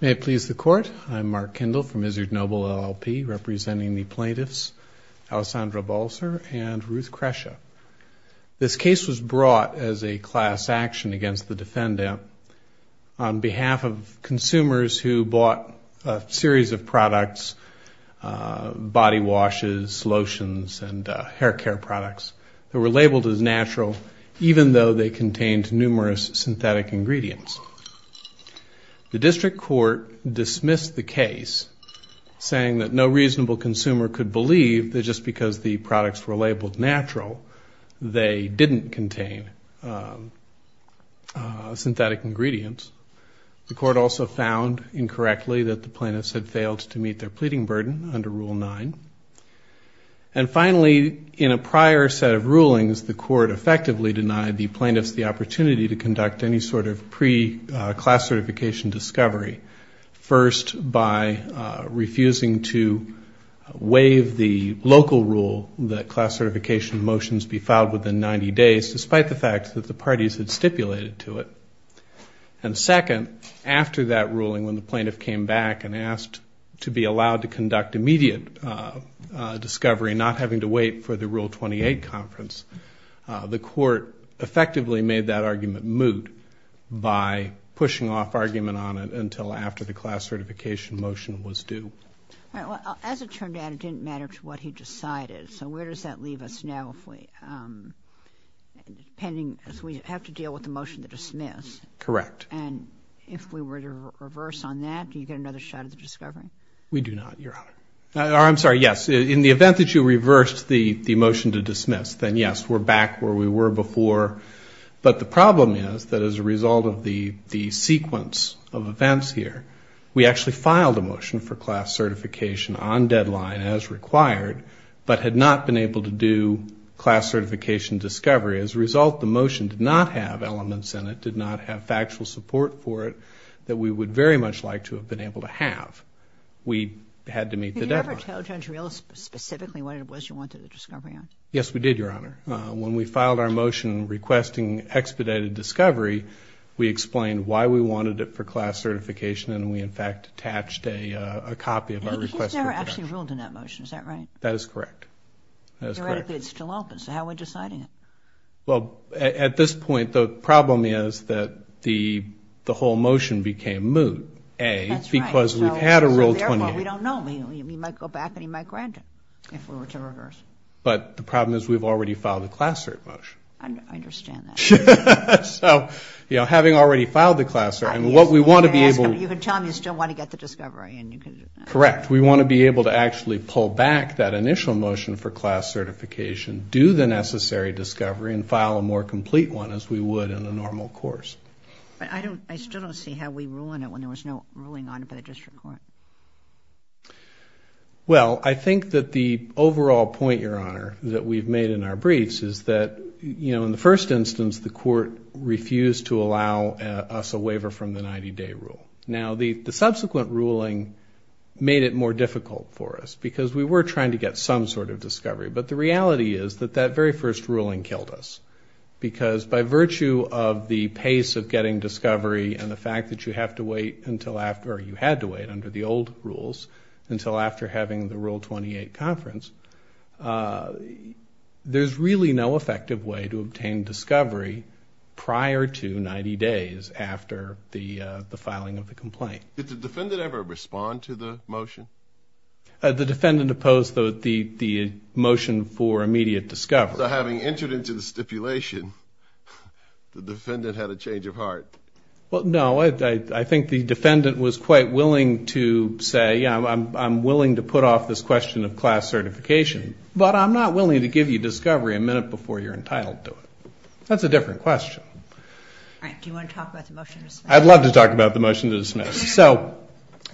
May it please the Court, I'm Mark Kendall from Izzard Noble LLP, representing the plaintiffs Alessandra Balser and Ruth Krecha. This case was brought as a class action against the defendant on behalf of consumers who bought a series of products, body washes, lotions, and hair care products that were labeled as natural, even though they contained numerous synthetic ingredients. The district court dismissed the case, saying that no reasonable consumer could believe that just because the products were labeled natural, they didn't contain synthetic ingredients. The court also found, incorrectly, that the plaintiffs had failed to meet their pleading burden under Rule 9. And finally, in a prior set of rulings, the court effectively denied the plaintiffs the opportunity to conduct any sort of pre-class certification discovery, first by refusing to waive the local rule that class certification motions be filed within 90 days, despite the fact that the parties had stipulated to it. And second, after that ruling, when the plaintiff came back and asked to be allowed to conduct immediate discovery, not having to wait for the Rule 28 conference, the court effectively made that argument moot by pushing off argument on it until after the class certification motion was due. As it turned out, it didn't matter to what he decided. So where does that leave us now, if we have to deal with the motion to dismiss? Correct. And if we were to reverse on that, do you get another shot at the discovery? We do not, Your Honor. I'm sorry, yes. In the event that you reversed the motion to dismiss, then yes, we're back where we were before. But the problem is that as a result of the sequence of events here, we actually filed a motion for class certification on deadline as required, but had not been able to do class certification discovery. As a result, the motion did not have elements in it, did not have factual support, that we would very much like to have been able to have. We had to meet the deadline. Did you ever tell Judge Reill specifically what it was you wanted the discovery on? Yes, we did, Your Honor. When we filed our motion requesting expedited discovery, we explained why we wanted it for class certification, and we in fact attached a copy of our request. It's never actually ruled in that motion, is that right? That is correct. Theoretically, it's still open. So how are we deciding it? Well, at this point, the problem is that the whole motion became moot, A, because we've had a Rule 28. So therefore, we don't know. He might go back and he might grant it if we were to reverse. But the problem is we've already filed the class cert motion. I understand that. Correct. We want to be able to actually pull back that initial motion for class certification, do the necessary discovery, and file a more complete one as we would in a normal course. But I still don't see how we ruin it when there was no ruling on it by the district court. Well, I think that the overall point, Your Honor, that we've made in our briefs is that, you know, in the first instance, the court refused to allow us a waiver from the 90-day rule. Now, the subsequent ruling made it more difficult for us, because we were trying to get some sort of discovery. But the reality is that that very first ruling killed us, because by virtue of the pace of getting discovery and the fact that you have to wait until after, or you had to wait under the order of the district court, the court refused to allow us a waiver from the 90-day rule. And so we had to wait under the old rules until after having the Rule 28 conference. There's really no effective way to obtain discovery prior to 90 days after the filing of the complaint. Did the defendant ever respond to the motion? The defendant opposed the motion for immediate discovery. After having entered into the stipulation, the defendant had a change of heart. Well, no. I think the defendant was quite willing to say, yeah, I'm willing to put off this question of class certification, but I'm not willing to give you discovery a minute before you're entitled to it. That's a different question. All right. Do you want to talk about the motion to dismiss? So,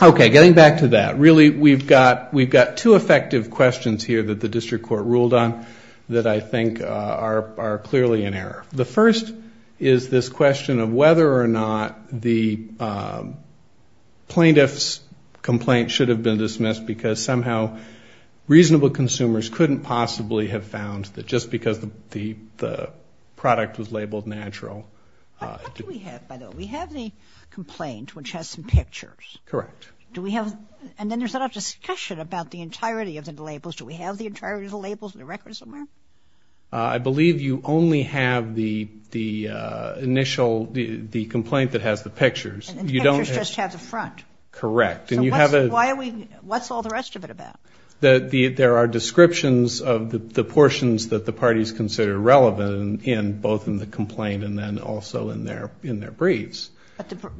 okay, getting back to that, really we've got two effective questions here that the district court ruled on that I think are clearly in error. The first is this question of whether or not the plaintiff's complaint should have been dismissed because somehow reasonable consumers couldn't possibly have found that just because the product was labeled natural. What do we have, by the way? We have the complaint, which has some pictures. Correct. Do we have, and then there's a lot of discussion about the entirety of the labels. Do we have the entirety of the labels and the records somewhere? I believe you only have the initial, the complaint that has the pictures. And the pictures just have the front. Correct. And you have a... So what's all the rest of it about? There are descriptions of the portions that the parties consider relevant in both in the complaint and then also in their briefs.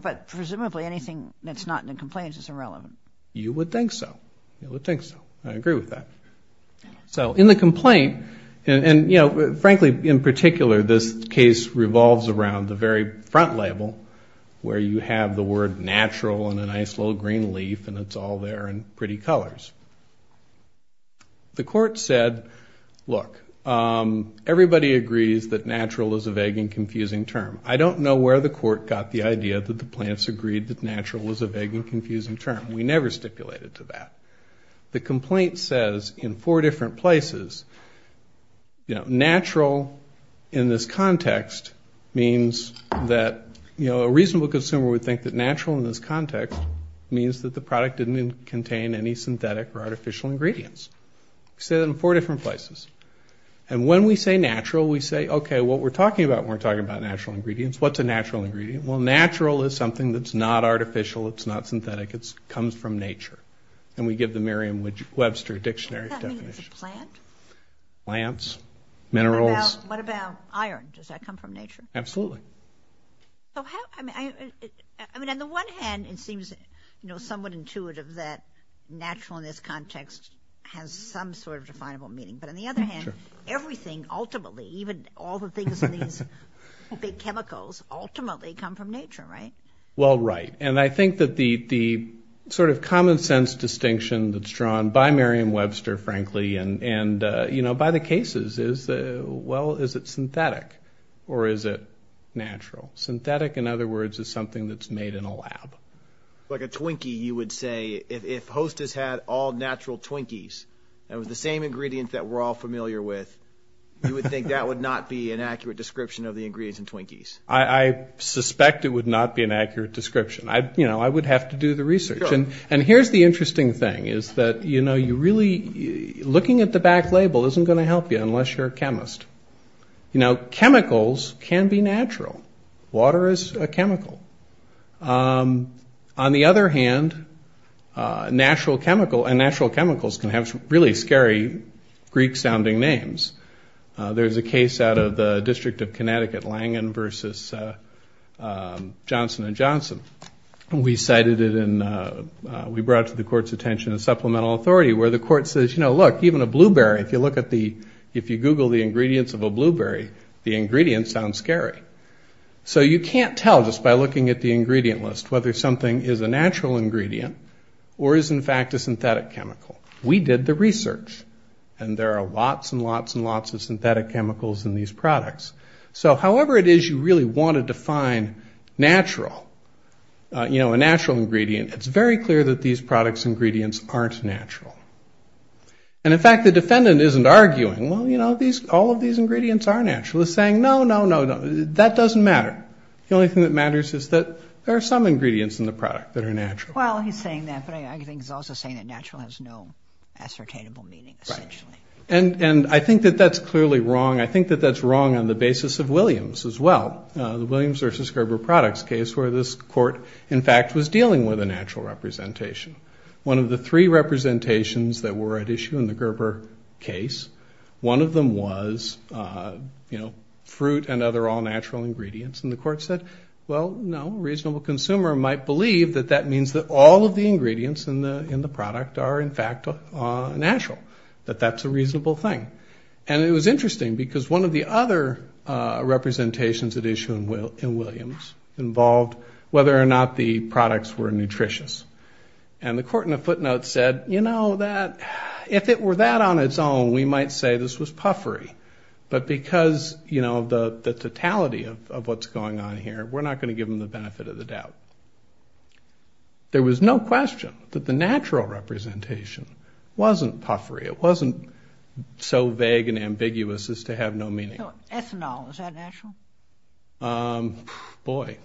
But presumably anything that's not in the complaint is irrelevant. You would think so. You would think so. I agree with that. So in the complaint, and, you know, frankly, in particular, this case revolves around the very front label where you have the word natural and a nice little green leaf and it's all there in pretty colors. The court said, look, everybody agrees that natural is a vague and confusing term. I don't know where the court got the idea that the plaintiffs agreed that natural was a vague and confusing term. We never stipulated to that. The complaint says in four different places, you know, natural in this context means that, you know, a reasonable consumer would think that natural in this context means that the product didn't contain any synthetic or artificial ingredients. We say that in four different places. And when we say natural, we say, okay, what we're talking about when we're talking about natural ingredients, what's a natural ingredient? Well, natural is something that's not artificial, it's not synthetic, it comes from nature. And we give the Merriam-Webster dictionary definition. Does that mean it's a plant? I mean, I don't think it has some sort of definable meaning, but on the other hand, everything ultimately, even all the things in these big chemicals ultimately come from nature, right? Well, right, and I think that the sort of common sense distinction that's drawn by Merriam-Webster, frankly, and, you know, by the cases is, well, is it synthetic or is it natural? Synthetic, in other words, is something that's made in a lab. Like a Twinkie, you would say, if Hostess had all natural Twinkies and it was the same ingredients that we're all familiar with, you would think that would not be an accurate description of the ingredients in Twinkies. I suspect it would not be an accurate description. You know, I would have to do the research. And here's the interesting thing, is that, you know, you really, looking at the back label isn't going to help you unless you're a chemist. You know, chemicals can be natural, water is a chemical. On the other hand, natural chemical, and natural chemicals can have really scary Greek-sounding names. There's a case out of the District of Connecticut, Langen versus Johnson & Johnson. We cited it in, we brought it to the court's attention as supplemental authority, where the court says, you know, look, even a blueberry, if you look at the, if you Google the ingredients, the ingredients of a blueberry, the ingredients sound scary. So you can't tell just by looking at the ingredient list whether something is a natural ingredient or is in fact a synthetic chemical. We did the research, and there are lots and lots and lots of synthetic chemicals in these products. So however it is you really want to define natural, you know, a natural ingredient, it's very clear that these products' ingredients aren't natural. And in fact, the defendant isn't arguing, well, you know, all of these ingredients are natural. He's saying, no, no, no, that doesn't matter. The only thing that matters is that there are some ingredients in the product that are natural. And I think that that's clearly wrong. I think that that's wrong on the basis of Williams as well. The Williams versus Gerber products case where this court in fact was dealing with a natural representation. One of the three representations that were at issue in the Gerber case, one of them was, you know, fruit and other all-natural ingredients. And the court said, well, no, a reasonable consumer might believe that that means that all of the ingredients in the product are in fact natural, that that's a reasonable thing. And it was interesting because one of the other representations at issue in Williams involved whether or not the products were nutritious. And the court in a footnote said, you know, that if it were that on its own, we might say this was puffery. But because, you know, the totality of what's going on here, we're not going to give them the benefit of the doubt. There was no question that the natural representation wasn't puffery. It wasn't so vague and ambiguous as to have no meaning. Boy,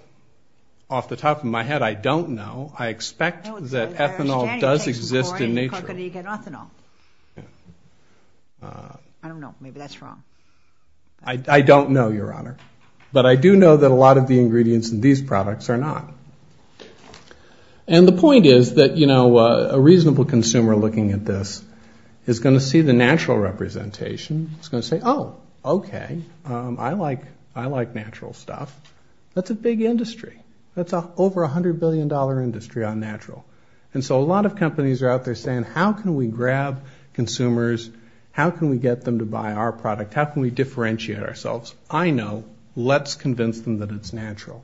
off the top of my head, I don't know. I expect that ethanol does exist in nature. I don't know. Maybe that's wrong. I don't know, Your Honor, but I do know that a lot of the ingredients in these products are not. And the point is that, you know, a reasonable consumer looking at this is going to see the natural representation. It's going to say, oh, okay, I like natural stuff. That's a big industry. That's over $100 billion industry on natural. And so a lot of companies are out there saying, how can we grab consumers? How can we get them to buy our product? How can we differentiate ourselves? I know. Let's convince them that it's natural.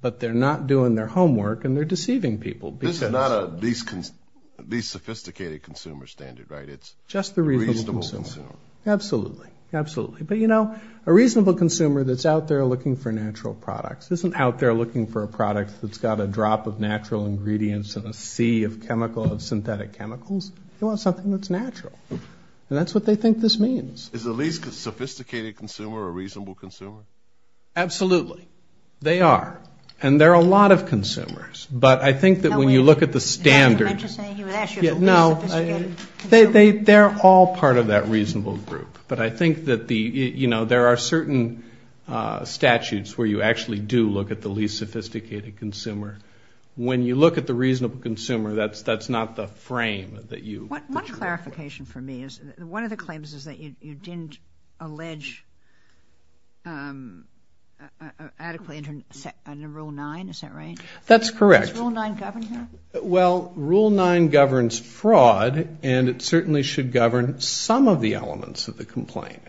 But they're not doing their homework and they're deceiving people. This is not a least sophisticated consumer standard, right? It's just the reasonable consumer. Absolutely. Absolutely. But, you know, a reasonable consumer that's out there looking for natural products isn't out there looking for a product that's got a drop of natural ingredients and a sea of chemical, of synthetic chemicals. They want something that's natural. And that's what they think this means. Absolutely. Absolutely. They are. And there are a lot of consumers. But I think that when you look at the standards. They're all part of that reasonable group. But I think that the, you know, there are certain statutes where you actually do look at the least sophisticated consumer. When you look at the reasonable consumer, that's not the frame that you. That's correct. Well, rule nine governs fraud, and it certainly should govern some of the elements of the complaint.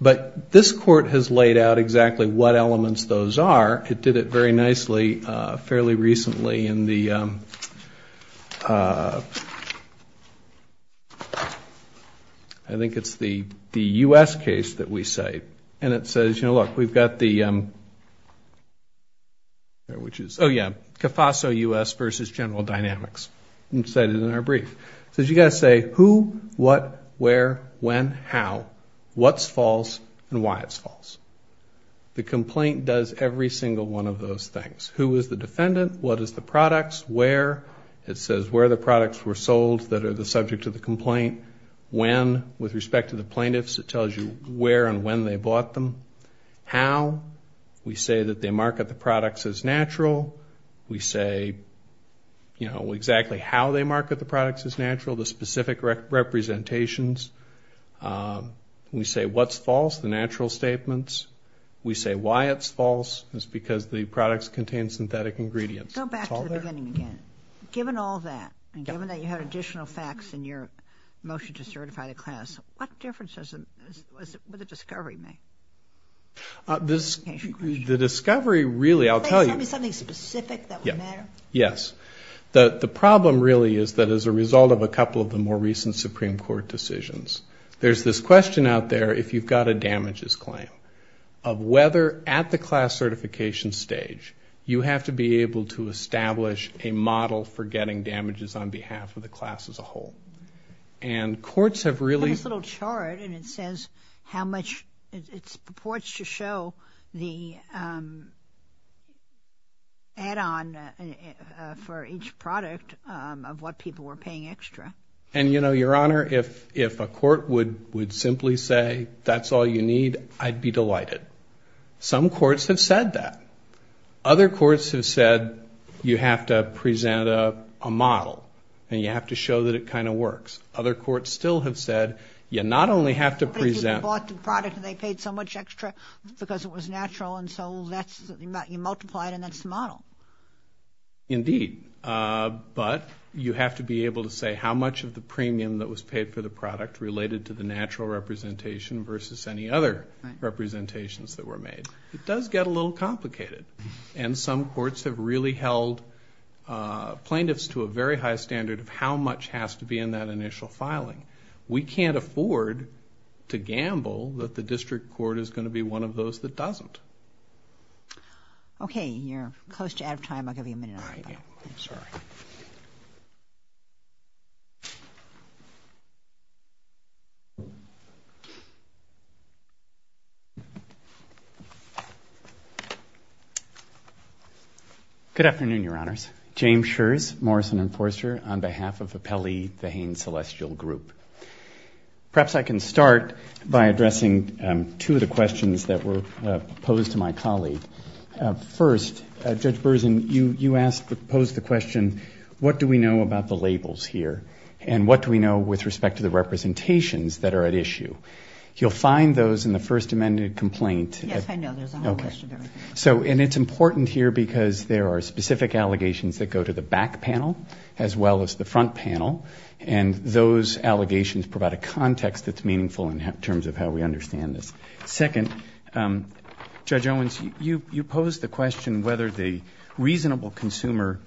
But this court has laid out exactly what elements those are. It did it very nicely fairly recently in the, I think it's the U.S. case that we cite. And it says, you know, look, we've got the. Which is, oh yeah, CAFASO U.S. versus General Dynamics. It's cited in our brief. The complaint does every single one of those things. Who is the defendant? What is the products? Where? It says where the products were sold that are the subject of the complaint. When, with respect to the plaintiffs, it tells you where and when they bought them. How? We say that they market the products as natural. We say, you know, exactly how they market the products as natural, the specific representations. We say what's false, the natural statements. We say why it's false is because the products contain synthetic ingredients. Go back to the beginning again. Given all that and given that you have additional facts in your motion to certify the class, what difference does the discovery make? The discovery really, I'll tell you. Yes. The problem really is that as a result of a couple of the more recent Supreme Court decisions, there's this question out there, if you've got a damages claim, of whether at the class certification stage you have to be able to establish a model for getting damages on behalf of the class as a whole. I have this little chart and it says how much it purports to show the add-on for each product of what people were paying extra. And, you know, Your Honor, if a court would simply say that's all you need, I'd be delighted. Some courts have said that. Other courts have said you have to present a model and you have to show that it kind of works. Other courts still have said you not only have to present... But you bought the product and they paid so much extra because it was natural and so you multiply it and that's the model. Indeed. But you have to be able to say how much of the premium that was paid for the product related to the natural representation versus any other representations that were made. It does get a little complicated. And some courts have really held plaintiffs to a very high standard of how much has to be in that initial filing. We can't afford to gamble that the district court is going to be one of those that doesn't. Okay. You're close to out of time. I'll give you a minute. Good afternoon, Your Honors. James Scherz, Morrison & Forster, on behalf of Appelli, the Haines Celestial Group. Perhaps I can start by addressing two of the questions that were posed to my colleague. First, Judge Berzin, you posed the question, what do we know about the labels here? And what do we know with respect to the representations that are at issue? You'll find those in the First Amendment complaint. And it's important here because there are specific allegations that go to the back panel as well as the front panel. And those allegations provide a context that's meaningful in terms of how we understand this. Second, Judge Owens, you posed the question whether the reasonable consumer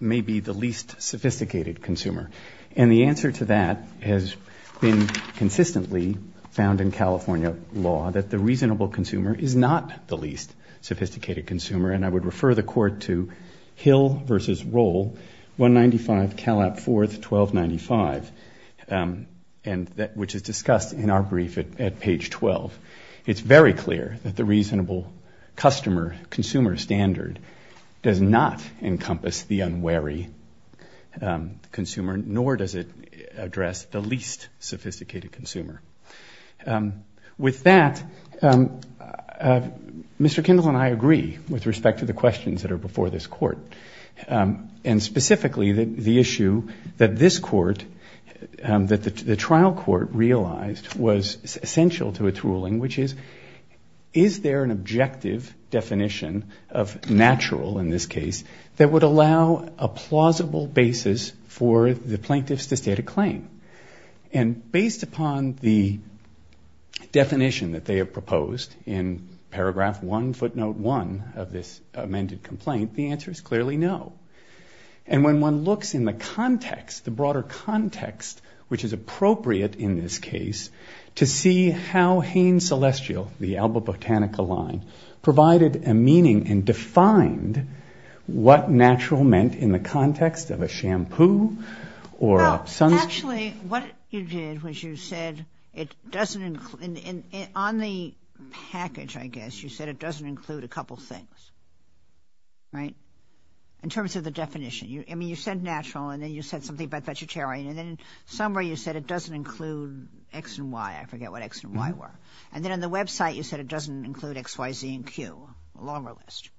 may be the least sophisticated consumer. And the answer to that has been consistently found in California law, that the reasonable consumer is not the least sophisticated consumer. And I would refer the Court to Hill v. Roll, 195 Calap 4th, 1295, which is discussed in our brief at page 12. It's very clear that the reasonable customer, consumer standard, does not encompass the unwary consumer, nor does it address the least sophisticated consumer. With that, Mr. Kendall and I agree with respect to the questions that are before this Court. And specifically the issue that this Court, that the trial Court realized was essential to its ruling, which is, is there an objective definition of natural in this case that would allow a plausible basis for the plaintiffs to state a claim? And based upon the definition that they have proposed in paragraph 1, footnote 1 of this amended complaint, the answer is clearly no. And when one looks in the context, the broader context, which is appropriate in this case, to see how Haines Celestial, the Alba Botanica line, provided a meaning and defined what natural meant in the context of a shampoo or a sunscreen. Actually, what you did was you said it doesn't, on the package, I guess, you said it doesn't include a couple things, right, in terms of the definition. I mean, you said natural, and then you said something about vegetarian, and then in summary you said it doesn't include X and Y. I forget what X and Y were. And then on the website you said it doesn't include X, Y, Z, and Q, a longer list.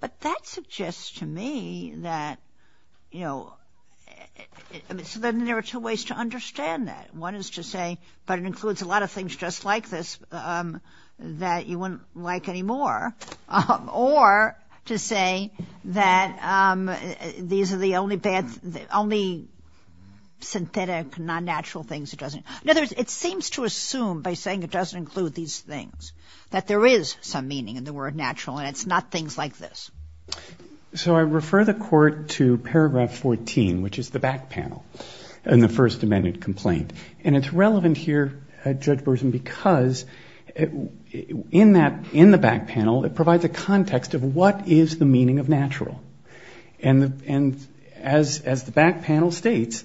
But that suggests to me that, you know, so then there are two ways to understand that. One is to say, but it includes a lot of things just like this that you wouldn't like anymore, or to say that these are the only synthetic, non-natural things it doesn't. In other words, it seems to assume by saying it doesn't include these things that there is some meaning in the word natural, and it's not things like this. So I refer the Court to paragraph 14, which is the back panel in the First Amendment complaint. And it's relevant here, Judge Burson, because in that, in the back panel, it provides a context of what is the meaning of natural. And as the back panel states,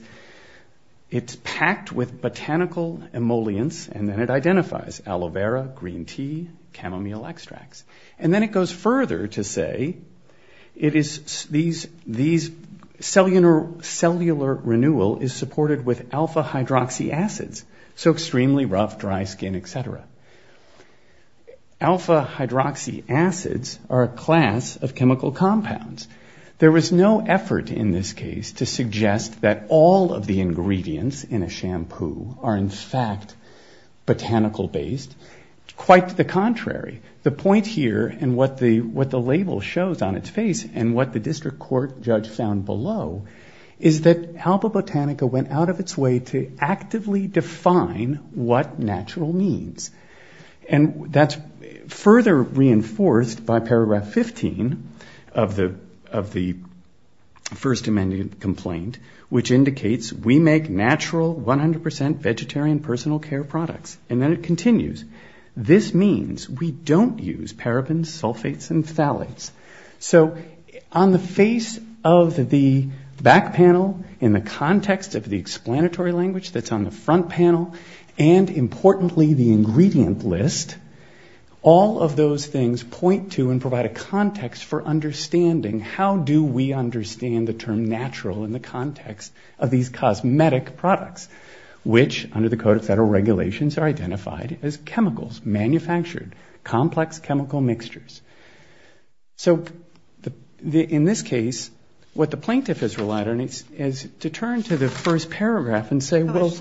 it's packed with botanical emollients, and then it identifies aloe vera, green tea, chamomile extracts. And then it goes further to say it is these cellular renewal is supported with alpha-hydroxy acids. So extremely rough, dry skin, et cetera. Alpha-hydroxy acids are a class of chemical compounds. There is no effort in this case to suggest that all of the ingredients in a shampoo are in fact botanical-based. Quite the contrary. The point here, and what the label shows on its face, and what the district court judge found below, is that Alba Botanica went out of its way to actively define what natural means. And that's further reinforced by paragraph 15 of the First Amendment complaint, which indicates we make natural 100% vegetarian personal care products. And then it continues. This means we don't use parabens, sulfates, and phthalates. So on the face of the back panel, in the context of the explanatory language that's on the front panel, and importantly the ingredient list, all of those things point to and provide a context for understanding how do we understand the term natural in the context of these cosmetic products, which under the Code of Federal Regulations are identified as chemicals, manufactured, complex chemical mixtures. So in this case, what the plaintiff has relied on is to turn to the first paragraph and say, well... it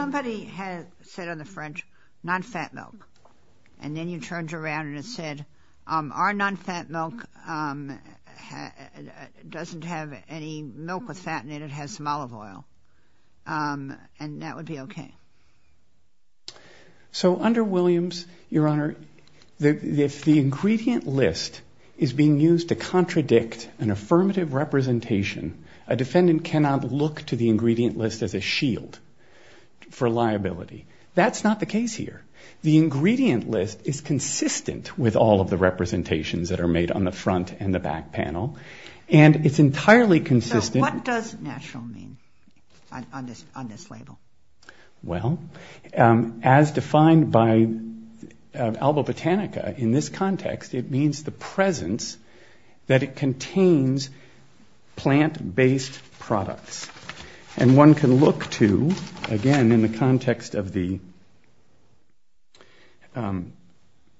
doesn't have any milk with fat in it, it has some olive oil. And that would be okay. So under Williams, Your Honor, if the ingredient list is being used to contradict an affirmative representation, a defendant cannot look to the ingredient list as a shield for liability. That's not the case here. The ingredient list is consistent with all of the representations that are made on the front and the back panel, and it's entirely consistent... Well, as defined by Alba Botanica in this context, it means the presence that it contains plant-based products. And one can look to, again, in the context of the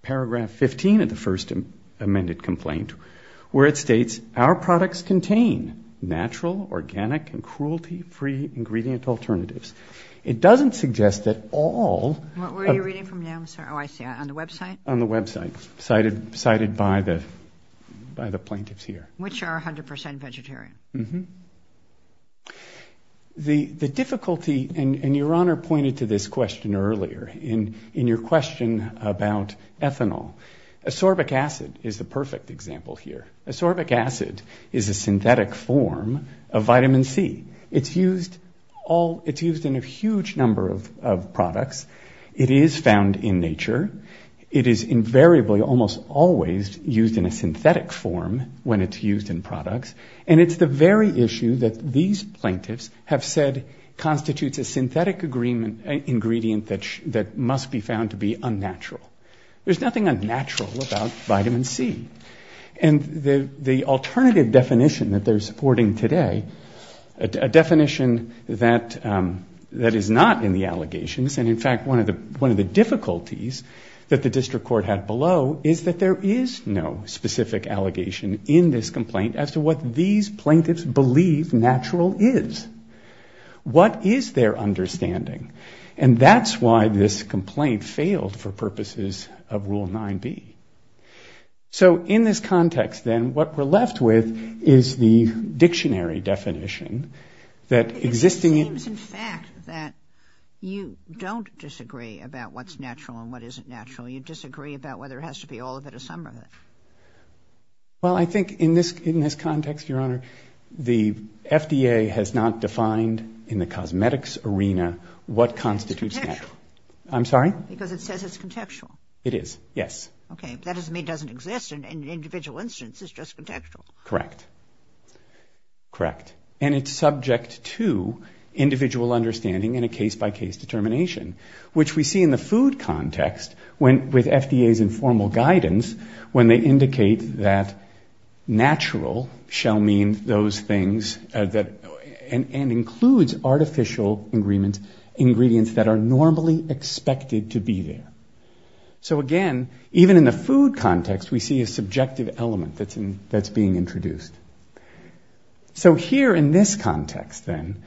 paragraph 15 of the first amended complaint, where it states, our products contain natural, organic, and cruelty-free ingredient alternatives. It doesn't suggest that all... What were you reading from now? Oh, I see. On the website? On the website, cited by the plaintiffs here. Which are 100 percent vegetarian. The difficulty, and Your Honor pointed to this question earlier in your question about ethanol. Ascorbic acid is the perfect example here. Ascorbic acid is a synthetic form of vitamin C. It's used in a huge number of products. It is found in nature. It is invariably almost always used in a synthetic form when it's used in products. And it's the very issue that these plaintiffs have said constitutes a synthetic ingredient that must be found to be unnatural. There's nothing unnatural about vitamin C. And the alternative definition that they're supporting today, a definition that is not in the allegations, and in fact one of the difficulties that the district court had below, is that there is no specific allegation in this complaint as to what these plaintiffs believe natural is. What is their understanding? And that's why this complaint failed for purposes of Rule 9B. So in this context then, what we're left with is the dictionary definition that existing... It seems in fact that you don't disagree about what's natural and what isn't natural. You disagree about whether it has to be all of it or some of it. Well, I think in this context, Your Honor, the FDA has not defined in the cosmetics arena what constitutes natural. I'm sorry? Because it says it's contextual. It is, yes. Okay, but that doesn't mean it doesn't exist in an individual instance. It's just contextual. Correct. And it's subject to individual understanding and a case-by-case determination, which we see in the food context with FDA's informal guidance when they indicate that natural shall mean those things that...and includes artificial ingredients that are normally expected to be there. So again, even in the food context, we see a subjective element that's being introduced. So here in this context then,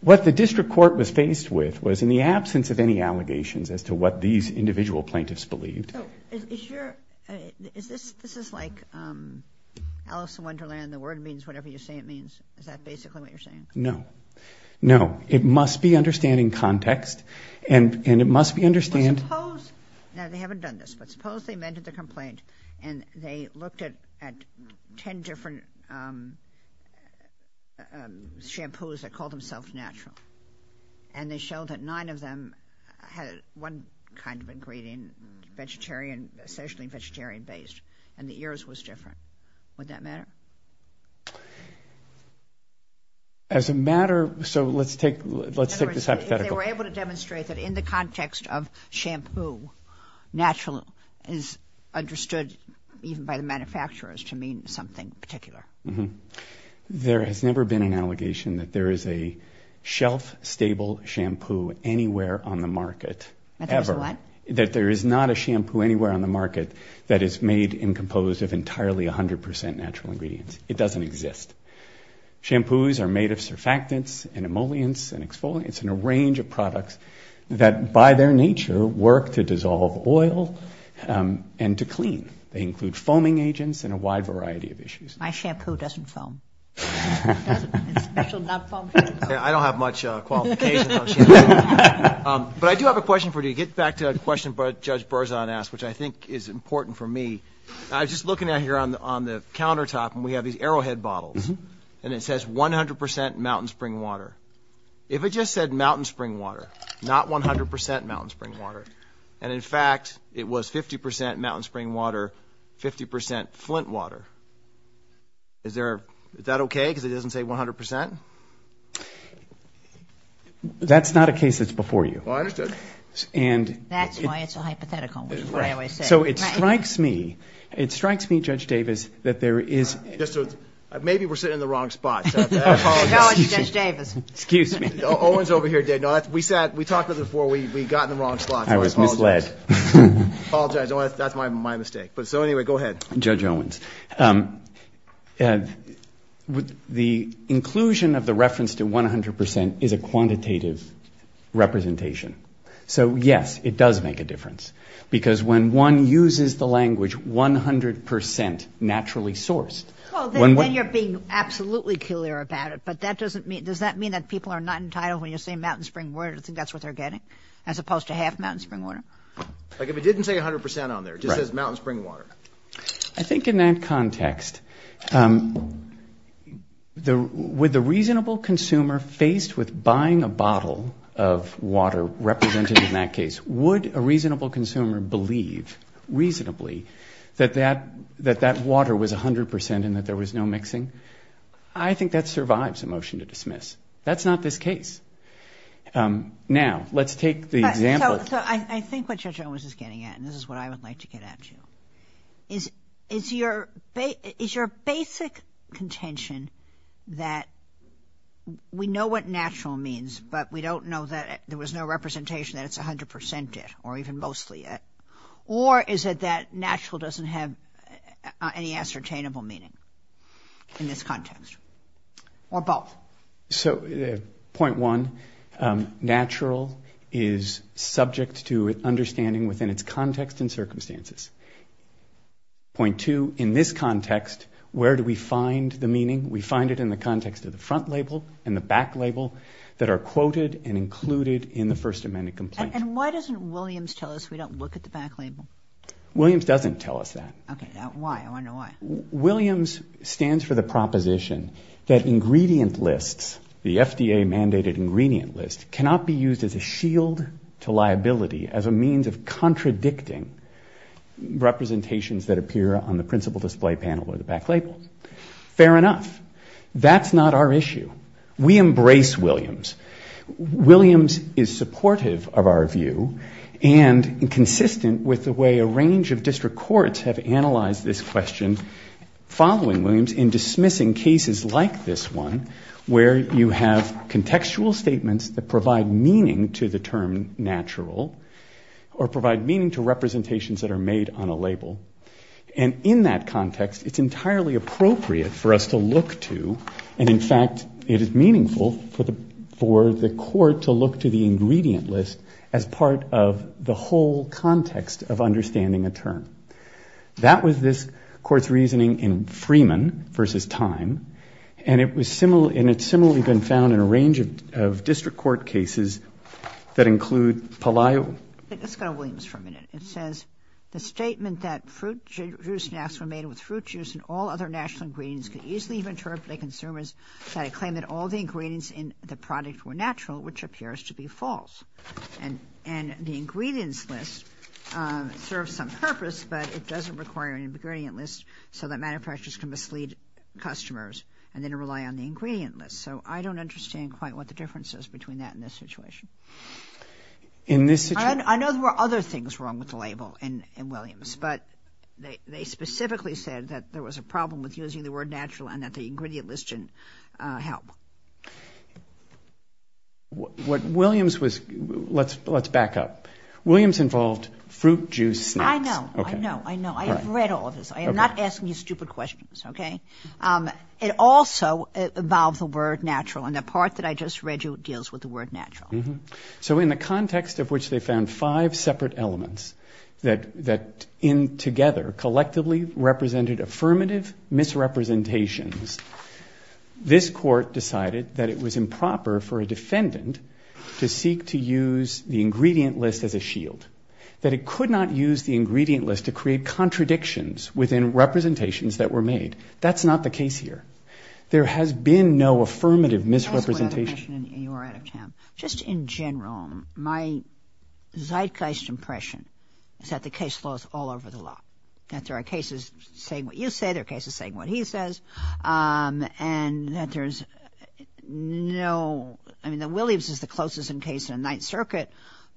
what the district court was faced with was an issue of natural. In the absence of any allegations as to what these individual plaintiffs believed... This is like Alice in Wonderland. The word means whatever you say it means. Is that basically what you're saying? No. No. It must be understanding context and it must be understanding... Well, suppose...now, they haven't done this, but suppose they amended the complaint and they looked at ten different shampoos that called themselves natural, and they showed that nine of them had one kind of ingredient, vegetarian...essentially vegetarian-based, and the ears was different. Would that matter? As a matter...so let's take this hypothetical. In other words, if they were able to demonstrate that in the context of shampoo, natural is understood even by the manufacturers to mean something particular. There has never been an allegation that there is a shelf-stable shampoo anywhere on the market, ever. That there is not a shampoo anywhere on the market that is made and composed of entirely 100 percent natural ingredients. It doesn't exist. Shampoos are made of surfactants and emollients and exfoliants and a range of products that by their nature work to dissolve oil and to clean. They include foaming agents and a wide variety of issues. My shampoo doesn't foam. I don't have much qualification. But I do have a question for you to get back to a question Judge Berzon asked, which I think is important for me. I was just looking out here on the countertop and we have these Arrowhead bottles, and it says 100 percent mountain spring water. If it just said mountain spring water, not 100 percent mountain spring water, and in fact it was 50 percent mountain spring water, 50 percent Flint water, is there, is that okay, because it doesn't say 100 percent? That's not a case that's before you. That's why it's a hypothetical. So it strikes me, it strikes me, Judge Davis, that there is... Maybe we're sitting in the wrong spot. I apologize. We talked about this before. We got in the wrong spot. I apologize. That's my mistake. The inclusion of the reference to 100 percent is a quantitative representation. So yes, it does make a difference. Because when one uses the language 100 percent naturally sourced... Well, then you're being absolutely clear about it. But does that mean that people are not entitled, when you say mountain spring water, to think that's what they're getting, as opposed to half mountain spring water? Like if it didn't say 100 percent on there, it just says mountain spring water. I think in that context, with a reasonable consumer faced with buying a bottle of water represented in that case, would a reasonable consumer believe reasonably that that water was 100 percent and that there was no mixing? I think that survives a motion to dismiss. That's not this case. Now, let's take the example... So I think what Judge Owens is getting at, and this is what I would like to get at you, is your basic contention that we know what natural means, but we don't know that there was no representation that it's 100 percent it, or even mostly it, or is it that natural doesn't have any ascertainable meaning in this context, or both? So, point one, natural is subject to understanding within its context and circumstances. Point two, in this context, where do we find the meaning? We find it in the context of the front label and the back label that are quoted and included in the First Amendment complaint. And why doesn't Williams tell us we don't look at the back label? Williams doesn't tell us that. Williams stands for the proposition that ingredient lists, the FDA mandated ingredient list, cannot be used as a shield to liability as a means of contradicting representations that appear on the principal display panel or the back label. Fair enough. That's not our issue. We embrace Williams. Williams is supportive of our view, and consistent with the way a range of district courts have analyzed this question following Williams in dismissing cases like this one, where you have contextual statements that provide meaning to the term natural, or provide meaning to representations that are made on a label. And in that context, it's entirely appropriate for us to look to, and in fact, it is meaningful for the Court to look to the ingredient list as part of the whole context of understanding a term. That was this Court's reasoning in Freeman v. Time, and it's similarly been found in a range of district court cases that include Palio. And the ingredient list serves some purpose, but it doesn't require an ingredient list so that manufacturers can mislead customers and then rely on the ingredient list. So I don't understand quite what the difference is between that and this situation. I know there were other things wrong with the label in Williams, but they specifically said that there was a problem with using the word natural and that the ingredient list didn't help. Let's back up. Williams involved fruit, juice, snacks. I know. I know. I know. I have read all of this. I am not asking you stupid questions, okay? It also involved the word natural, and the part that I just read you deals with the word natural. So in the context of which they found five separate elements that, in together, collectively represented affirmative misrepresentations, this Court decided that it was improper for a defendant to seek to use the ingredient list as a shield, that it could not use the ingredient list to create contradictions within representations that were made. That's not the case here. There has been no affirmative misrepresentation. Just in general, my zeitgeist impression is that the case laws all over the law, that there are cases saying what you say, there are cases saying what he says, and that there's no, I mean, that Williams is the closest in case in the Ninth Circuit,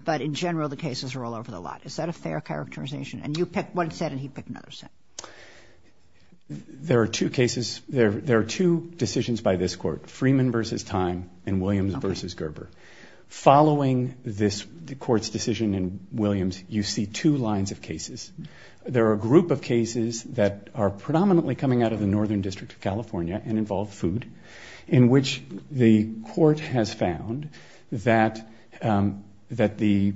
but in general, the cases are all over the law. Is that a fair characterization? And you pick one set and he'd pick another set. There are two cases, there are two decisions by this Court, Freeman v. Time and Williams v. Gerber. Following this Court's decision in Williams, you see two lines of cases. There are a group of cases that are predominantly coming out of the Northern District of California and involve food, in which the Court has found that the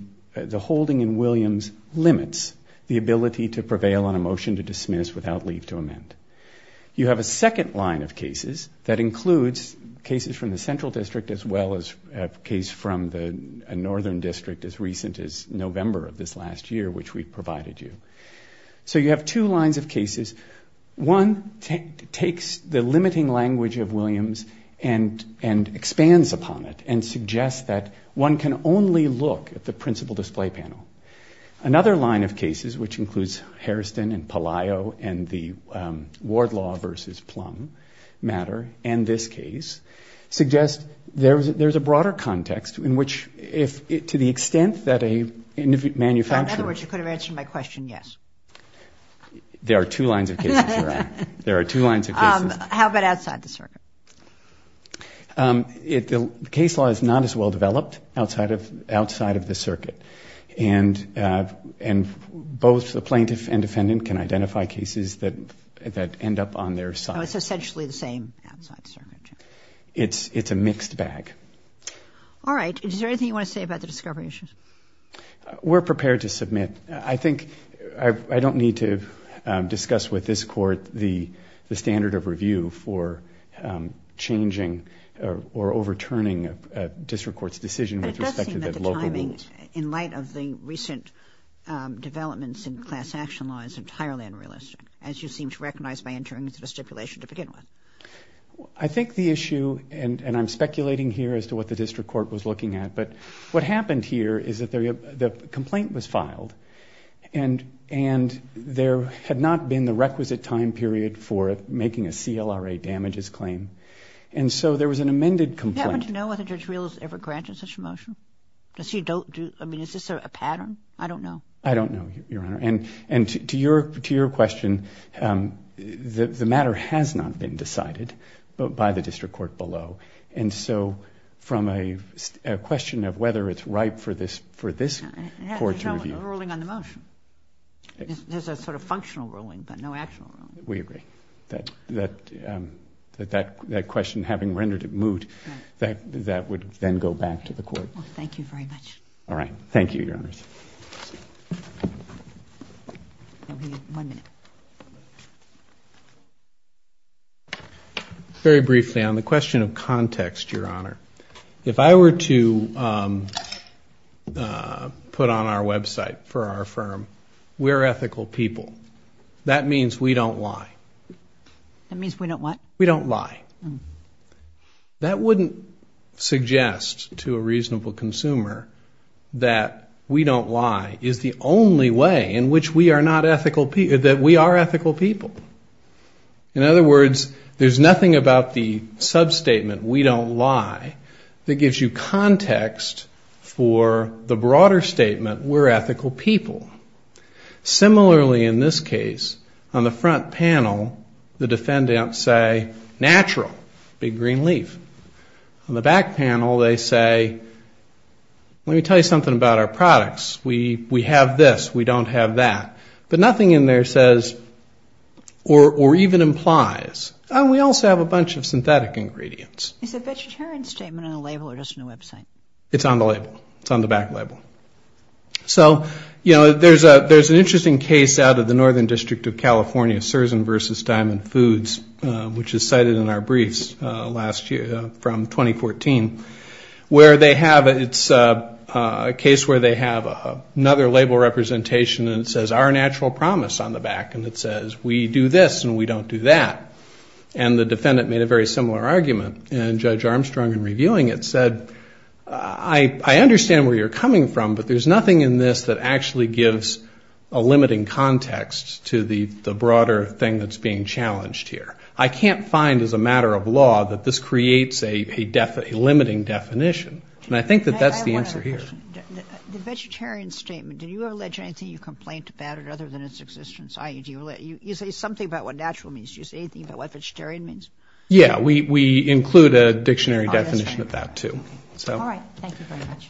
holding in Williams limits the ability to prevail on a motion to dismiss without leave to amend. You have a second line of cases that includes cases from the Central District as well as a case from the Northern District as recent as November of this last year, which we provided you. So you have two lines of cases. One takes the limiting language of Williams and expands upon it and suggests that one can only look at the principal display panel. Another line of cases, which includes Hairston and Palaio and the Ward Law v. Plum matter, and this case, suggest there's a broader context in which, to the extent that the plaintiff and defendant can identify cases that end up on their side. In other words, you could have answered my question, yes. There are two lines of cases, Your Honor. There are two lines of cases. How about outside the circuit? The case law is not as well developed outside of the circuit, and both the plaintiff and defendant can identify cases that end up on their side. I think I don't need to discuss with this Court the standard of review for changing or overturning a district court's decision with respect to the local rules. But it does seem that the timing, in light of the recent developments in class action law, is entirely unrealistic, as you seem to recognize by entering into the stipulation to begin with. I think the issue, and I'm speculating here as to what the district court was looking at, but what happened here is that the complaint was filed. And there had not been the requisite time period for making a CLRA damages claim. And so there was an amended complaint. Do you happen to know whether Judge Rios ever granted such a motion? Is this a pattern? I don't know. I don't know, Your Honor. And to your question, the matter has not been decided by the district court below. And so from a question of whether it's ripe for this Court to review. There's a ruling on the motion. There's a sort of functional ruling, but no actual ruling. We agree. That question, having rendered it moot, that would then go back to the Court. Thank you very much. Very briefly, on the question of context, Your Honor. If I were to put on our website for our firm, we're ethical people. That means we don't lie. That wouldn't suggest to a reasonable consumer that we don't lie is the only way in which we are ethical people. In other words, there's nothing about the substatement, we don't lie, that gives you context for the broader statement, we're ethical people. Similarly, in this case, on the front panel, the defendants say, natural, big green leaf. On the back panel, they say, let me tell you something about our products. We have this. We don't have that. But nothing in there says or even implies. And we also have a bunch of synthetic ingredients. It's on the label. It's on the back label. So, you know, there's an interesting case out of the Northern District of California, Sersen v. Diamond Foods, which is cited in our briefs last year, from 2014, where they have, it's a case where they have another label representation and it says, our natural promise on the back. And it says, we do this and we don't do that. And the defendant made a very similar argument. And Judge Armstrong, in reviewing it, said, I understand where you're coming from, but there's nothing in this that actually gives a limiting context to the broader thing that's being challenged here. I can't find, as a matter of law, that this creates a limiting definition. And I think that that's the answer here. The vegetarian statement, do you allege anything you complain about it other than its existence? You say something about what natural means. Do you say anything about what vegetarian means? Yeah, we include a dictionary definition of that, too. All right. Thank you very much.